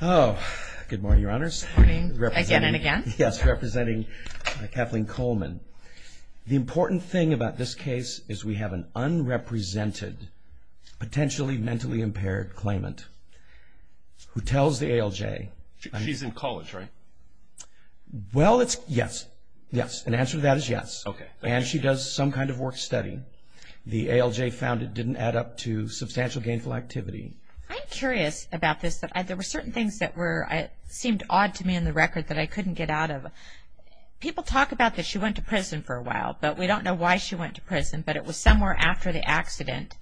Good morning, Your Honors. Good morning, again and again. Yes, representing Kathleen Coleman. The important thing about this case is we have an unrepresented, potentially mentally impaired claimant who tells the ALJ... She's in college, right? Well, it's... yes, yes. An answer to that is yes. Okay. And she does some kind of work study. The ALJ found it didn't add up to substantial gainful activity. I'm curious about this. There were certain things that seemed odd to me in the record that I couldn't get out of. People talk about that she went to prison for a while, but we don't know why she went to prison, but it was somewhere after the accident.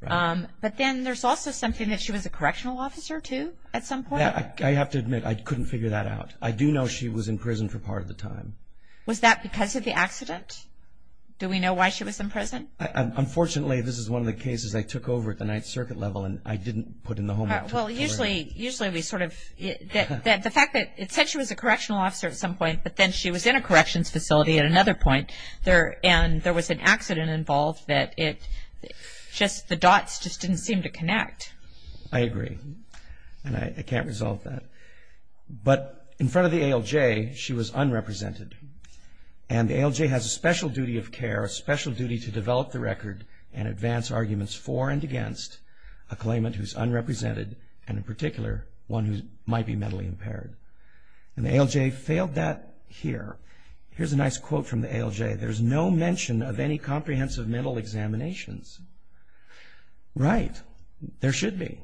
Right. But then there's also something that she was a correctional officer, too, at some point? I have to admit, I couldn't figure that out. I do know she was in prison for part of the time. Was that because of the accident? Do we know why she was in prison? Unfortunately, this is one of the cases I took over at the Ninth Circuit level, and I didn't put in the homework. Well, usually we sort of... The fact that it said she was a correctional officer at some point, but then she was in a corrections facility at another point, and there was an accident involved that it just... the dots just didn't seem to connect. I agree, and I can't resolve that. But in front of the ALJ, she was unrepresented, and the ALJ has a special duty of care, a special duty to develop the record and advance arguments for and against a claimant who's unrepresented and, in particular, one who might be mentally impaired. And the ALJ failed that here. Here's a nice quote from the ALJ. There's no mention of any comprehensive mental examinations. Right. There should be.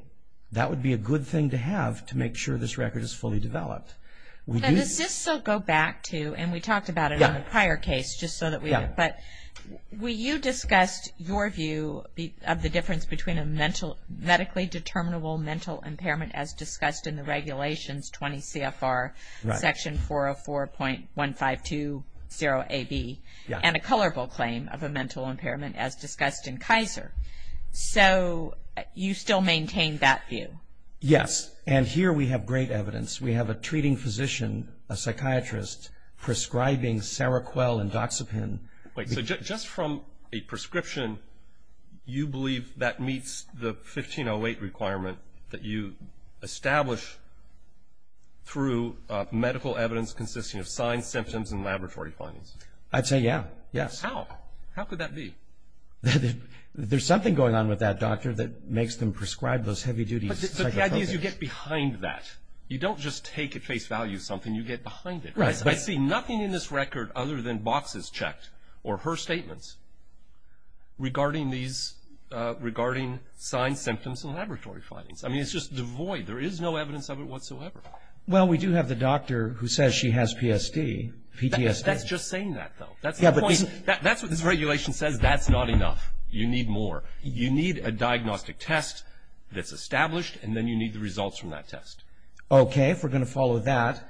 That would be a good thing to have to make sure this record is fully developed. Does this still go back to, and we talked about it in the prior case, just so that we... Yeah. But you discussed your view of the difference between a medically determinable mental impairment as discussed in the regulations, 20 CFR, Section 404.1520AB, and a colorable claim of a mental impairment as discussed in Kaiser. So you still maintain that view? Yes, and here we have great evidence. We have a treating physician, a psychiatrist, prescribing Seroquel and Doxepin. Wait. So just from a prescription, you believe that meets the 1508 requirement that you establish through medical evidence consisting of signed symptoms and laboratory findings? I'd say, yeah. Yes. How? How could that be? There's something going on with that doctor that makes them prescribe those heavy-duties. But the idea is you get behind that. You don't just take at face value something. You get behind it. Right. I see nothing in this record other than boxes checked, or her statements, regarding signed symptoms and laboratory findings. I mean, it's just devoid. There is no evidence of it whatsoever. Well, we do have the doctor who says she has PTSD. That's just saying that, though. That's what this regulation says. That's not enough. You need more. You need a diagnostic test that's established, and then you need the results from that test. Okay. If we're going to follow that,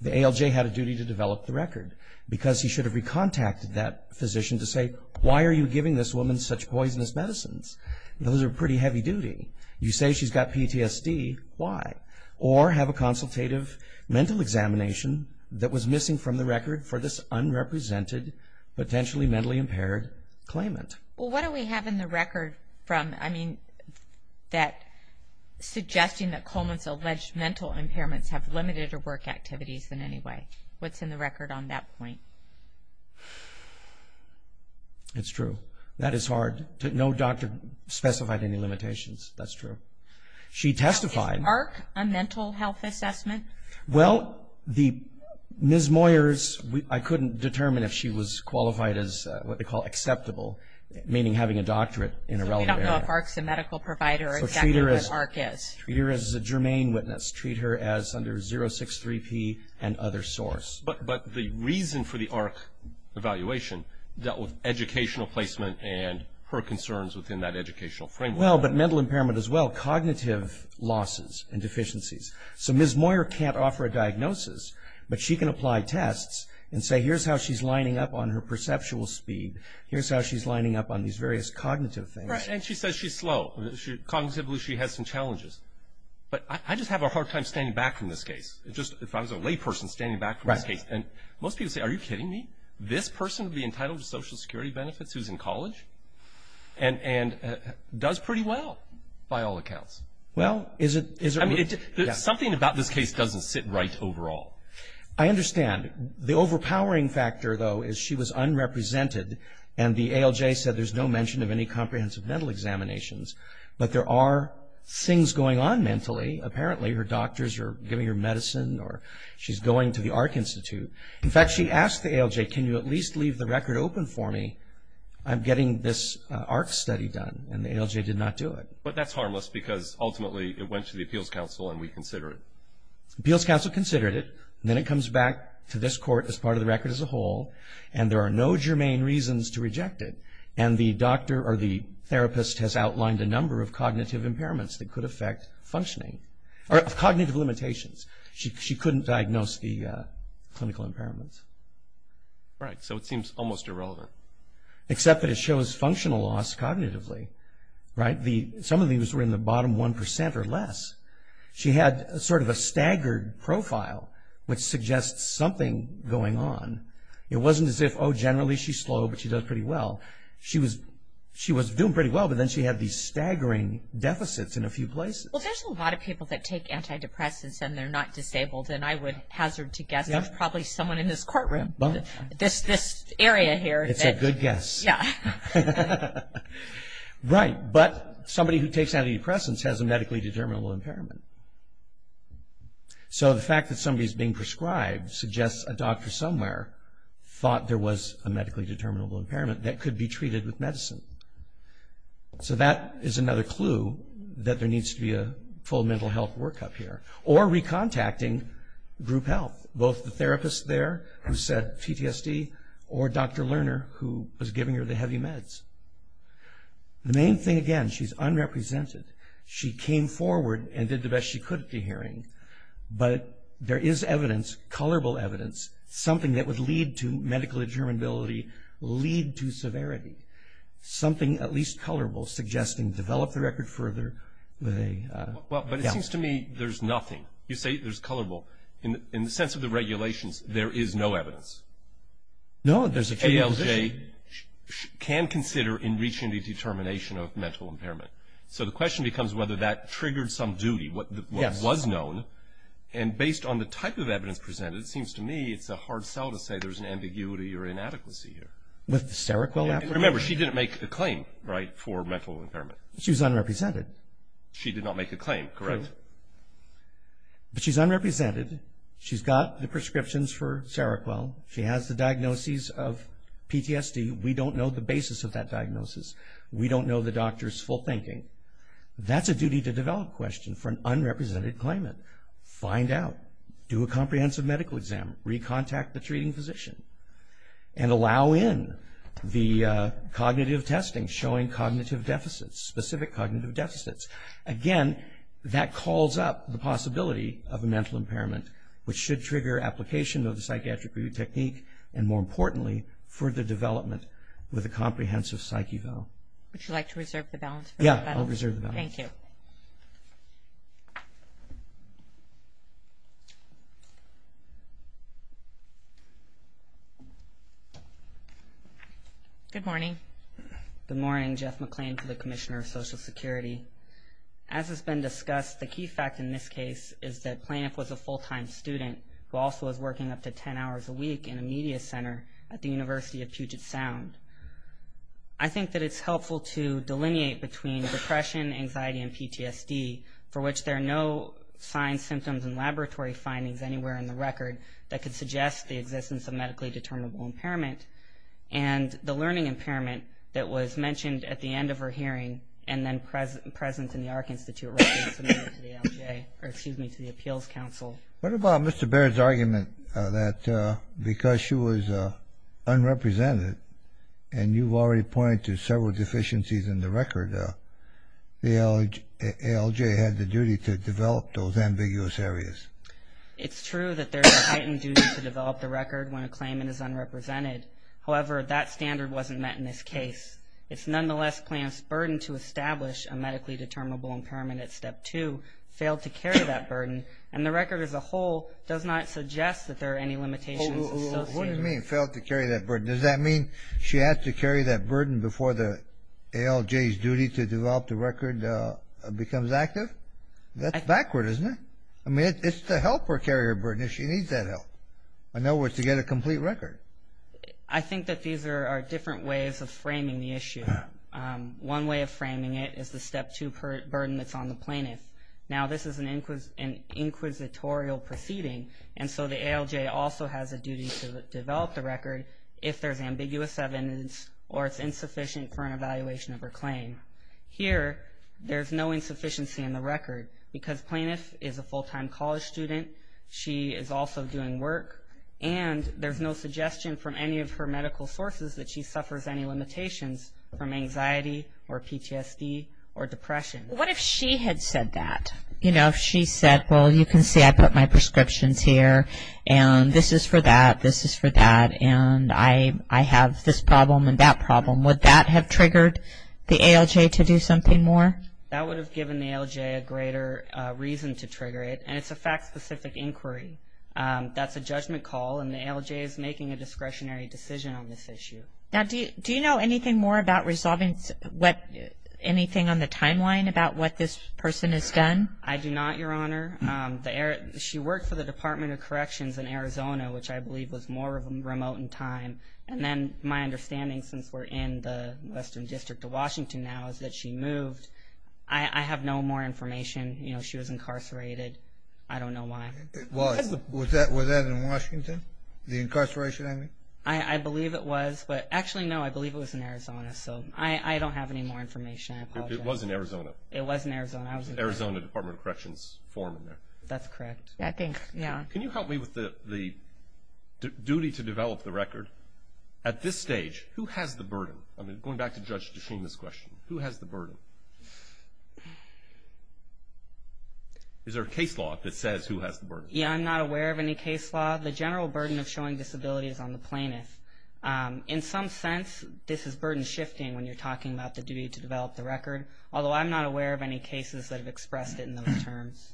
the ALJ had a duty to develop the record because he should have recontacted that physician to say, why are you giving this woman such poisonous medicines? Those are pretty heavy-duty. You say she's got PTSD. Why? Or have a consultative mental examination that was missing from the record for this unrepresented, potentially mentally impaired claimant. Well, what do we have in the record suggesting that Coleman's alleged mental impairments have limited her work activities in any way? What's in the record on that point? It's true. That is hard. No doctor specified any limitations. That's true. She testified. Is Mark a mental health assessment? Well, the Ms. Moyers, I couldn't determine if she was qualified as what they call acceptable, meaning having a doctorate in a relevant area. So we don't know if ARC's a medical provider or exactly what ARC is. Treat her as a germane witness. Treat her as under 063P and other source. But the reason for the ARC evaluation dealt with educational placement and her concerns within that educational framework. Well, but mental impairment as well, cognitive losses and deficiencies. So Ms. Moyer can't offer a diagnosis, but she can apply tests and say here's how she's lining up on her perceptual speed. Here's how she's lining up on these various cognitive things. Right. And she says she's slow. Cognitively she has some challenges. But I just have a hard time standing back from this case, just if I was a layperson standing back from this case. Right. And most people say, are you kidding me? This person would be entitled to Social Security benefits who's in college and does pretty well by all accounts. Well, is it – Something about this case doesn't sit right overall. I understand. The overpowering factor, though, is she was unrepresented and the ALJ said there's no mention of any comprehensive mental examinations. But there are things going on mentally. Apparently her doctors are giving her medicine or she's going to the ARC Institute. In fact, she asked the ALJ, can you at least leave the record open for me? I'm getting this ARC study done, and the ALJ did not do it. But that's harmless because ultimately it went to the Appeals Council and we consider it. Appeals Council considered it, and then it comes back to this court as part of the record as a whole, and there are no germane reasons to reject it. And the doctor or the therapist has outlined a number of cognitive impairments that could affect functioning – or cognitive limitations. She couldn't diagnose the clinical impairments. Right. So it seems almost irrelevant. Except that it shows functional loss cognitively, right? Some of these were in the bottom 1% or less. She had sort of a staggered profile, which suggests something going on. It wasn't as if, oh, generally she's slow but she does pretty well. She was doing pretty well, but then she had these staggering deficits in a few places. Well, there's a lot of people that take antidepressants and they're not disabled, and I would hazard to guess there's probably someone in this courtroom, this area here. It's a good guess. Yeah. Right. But somebody who takes antidepressants has a medically determinable impairment. So the fact that somebody is being prescribed suggests a doctor somewhere thought there was a medically determinable impairment that could be treated with medicine. So that is another clue that there needs to be a full mental health workup here. Or recontacting group health. Both the therapist there who said PTSD or Dr. Lerner who was giving her the heavy meds. The main thing, again, she's unrepresented. She came forward and did the best she could at the hearing, but there is evidence, colorable evidence, something that would lead to medical determinability, lead to severity. Something at least colorable suggesting develop the record further. But it seems to me there's nothing. You say there's colorable. In the sense of the regulations, there is no evidence. No, there's a clear position. ALJ can consider in reaching the determination of mental impairment. So the question becomes whether that triggered some duty, what was known. And based on the type of evidence presented, it seems to me it's a hard sell to say there's an ambiguity or inadequacy here. With the Seroquel affidavit? Remember, she didn't make a claim, right, for mental impairment. She was unrepresented. She did not make a claim, correct. But she's unrepresented. She's got the prescriptions for Seroquel. She has the diagnoses of PTSD. We don't know the basis of that diagnosis. We don't know the doctor's full thinking. That's a duty to develop question for an unrepresented claimant. Find out. Do a comprehensive medical exam. Recontact the treating physician. And allow in the cognitive testing, showing cognitive deficits, specific cognitive deficits. Again, that calls up the possibility of a mental impairment, which should trigger application of the psychiatric review technique, and more importantly, further development with a comprehensive psych eval. Would you like to reserve the balance? Yeah, I'll reserve the balance. Thank you. Good morning. Good morning. Jeff McClain for the Commissioner of Social Security. As has been discussed, the key fact in this case is that Planoff was a full-time student who also was working up to 10 hours a week in a media center at the University of Puget Sound. I think that it's helpful to delineate between depression, anxiety, and PTSD, for which there are no signs, symptoms, and laboratory findings anywhere in the record that could suggest the existence of medically determinable impairment, and the learning impairment that was mentioned at the end of her hearing and then present in the AHRQ Institute records similar to the ALJ, or excuse me, to the Appeals Council. What about Mr. Baird's argument that because she was unrepresented, and you've already pointed to several deficiencies in the record, the ALJ had the duty to develop those ambiguous areas? Well, what do you mean, failed to carry that burden? Does that mean she has to carry that burden before the ALJ's duty to develop the record becomes active? That's backward, isn't it? I mean, it's to help her carry her burden if she needs that help. I think that these are different ways of framing the issue. One way of framing it is the step two burden that's on the plaintiff. Now, this is an inquisitorial proceeding, and so the ALJ also has a duty to develop the record if there's ambiguous evidence or it's insufficient for an evaluation of her claim. Here, there's no insufficiency in the record because plaintiff is a full-time college student, she is also doing work, and there's no suggestion from any of her medical sources that she suffers any limitations from anxiety or PTSD or depression. What if she had said that? You know, if she said, well, you can see I put my prescriptions here, and this is for that, this is for that, and I have this problem and that problem, would that have triggered the ALJ to do something more? That would have given the ALJ a greater reason to trigger it, and it's a fact-specific inquiry. That's a judgment call, and the ALJ is making a discretionary decision on this issue. Now, do you know anything more about resolving anything on the timeline about what this person has done? I do not, Your Honor. She worked for the Department of Corrections in Arizona, which I believe was more remote in time, and then my understanding, since we're in the Western District of Washington now, is that she moved. I have no more information. You know, she was incarcerated. I don't know why. Was that in Washington, the incarceration, I mean? I believe it was, but actually, no, I believe it was in Arizona, so I don't have any more information. I apologize. It was in Arizona. It was in Arizona. Arizona Department of Corrections form in there. That's correct. I think, yeah. Can you help me with the duty to develop the record? At this stage, who has the burden? I'm going back to Judge DeShima's question. Who has the burden? Is there a case law that says who has the burden? Yeah, I'm not aware of any case law. The general burden of showing disability is on the plaintiff. In some sense, this is burden shifting when you're talking about the duty to develop the record, although I'm not aware of any cases that have expressed it in those terms.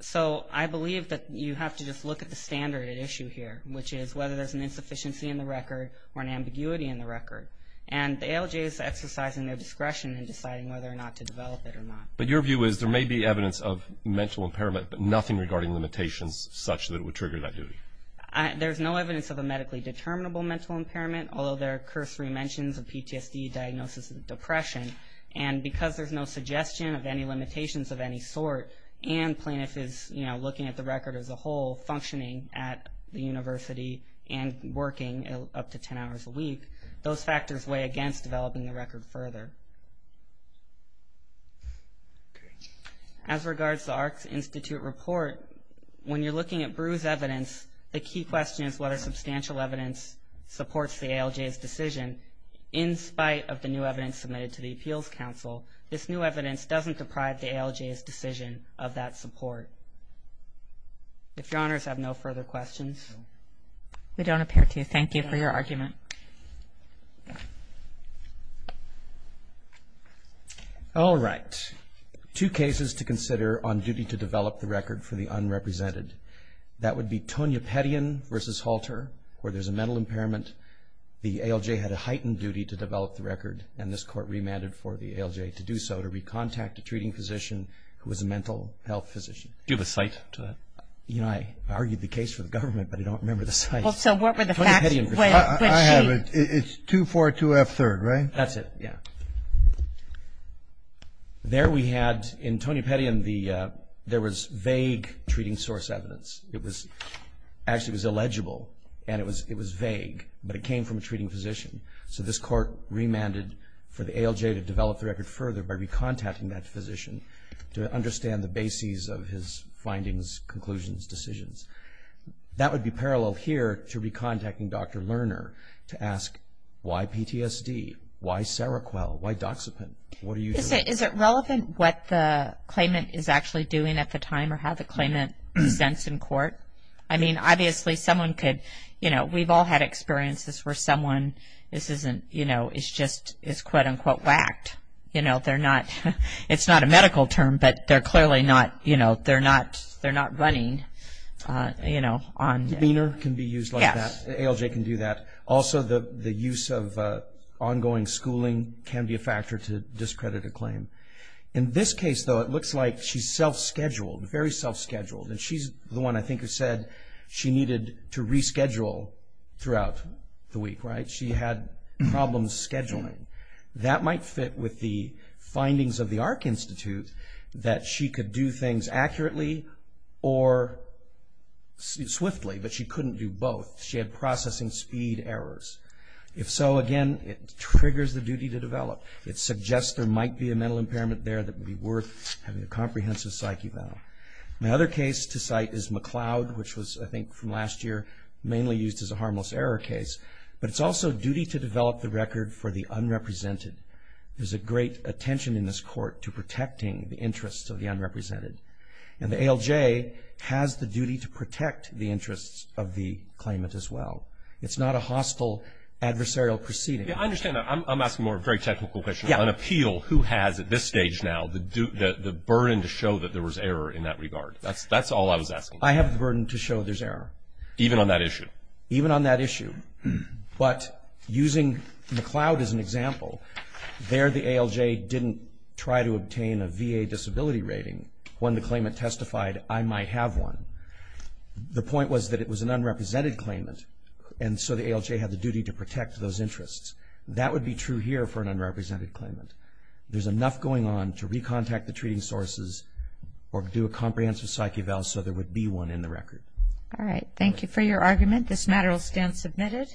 So I believe that you have to just look at the standard at issue here, which is whether there's an insufficiency in the record or an ambiguity in the record. And the ALJ is exercising their discretion in deciding whether or not to develop it or not. But your view is there may be evidence of mental impairment, but nothing regarding limitations such that it would trigger that duty? There's no evidence of a medically determinable mental impairment, although there are cursory mentions of PTSD, diagnosis of depression. And because there's no suggestion of any limitations of any sort, and plaintiff is, you know, looking at the record as a whole, functioning at the university and working up to 10 hours a week, those factors weigh against developing the record further. As regards to the Arcs Institute report, when you're looking at Bruce's evidence, the key question is whether substantial evidence supports the ALJ's decision. In spite of the new evidence submitted to the Appeals Council, this new evidence doesn't deprive the ALJ's decision of that support. If Your Honors have no further questions. We don't appear to. Thank you for your argument. All right. Two cases to consider on duty to develop the record for the unrepresented. That would be Tonya Pettyen v. Halter, where there's a mental impairment. The ALJ had a heightened duty to develop the record, and this court remanded for the ALJ to do so, to recontact a treating physician who was a mental health physician. Do you have a cite to that? You know, I argued the case for the government, but I don't remember the cite. Well, so what were the facts? I have it. It's 242F3, right? That's it. Yeah. There we had, in Tonya Pettyen, there was vague treating source evidence. Actually, it was illegible, and it was vague, but it came from a treating physician. So this court remanded for the ALJ to develop the record further by recontacting that physician to understand the bases of his findings, conclusions, decisions. That would be parallel here to recontacting Dr. Lerner to ask, why PTSD? Why Seroquel? Why Doxepin? What are you doing? Is it relevant what the claimant is actually doing at the time or how the claimant presents in court? I mean, obviously, someone could, you know, I mean, we've all had experiences where someone is just, quote, unquote, whacked. You know, it's not a medical term, but they're clearly not, you know, they're not running, you know, on. Leaner can be used like that. Yes. The ALJ can do that. Also, the use of ongoing schooling can be a factor to discredit a claim. In this case, though, it looks like she's self-scheduled, very self-scheduled, and she's the one, I think, who said she needed to reschedule throughout the week, right? She had problems scheduling. That might fit with the findings of the AHRQ Institute, that she could do things accurately or swiftly, but she couldn't do both. She had processing speed errors. If so, again, it triggers the duty to develop. It suggests there might be a mental impairment there that would be worth having a comprehensive psyche about. My other case to cite is McLeod, which was, I think, from last year, mainly used as a harmless error case. But it's also duty to develop the record for the unrepresented. There's a great attention in this court to protecting the interests of the unrepresented. And the ALJ has the duty to protect the interests of the claimant as well. It's not a hostile adversarial proceeding. Yeah, I understand that. I'm asking more of a very technical question. Yeah. On appeal, who has at this stage now the burden to show that there was error in that regard? That's all I was asking. I have the burden to show there's error. Even on that issue? Even on that issue. But using McLeod as an example, there the ALJ didn't try to obtain a VA disability rating. When the claimant testified, I might have one. The point was that it was an unrepresented claimant, and so the ALJ had the duty to protect those interests. That would be true here for an unrepresented claimant. There's enough going on to recontact the treating sources or do a comprehensive psych eval so there would be one in the record. All right. Thank you for your argument. This matter will stand submitted.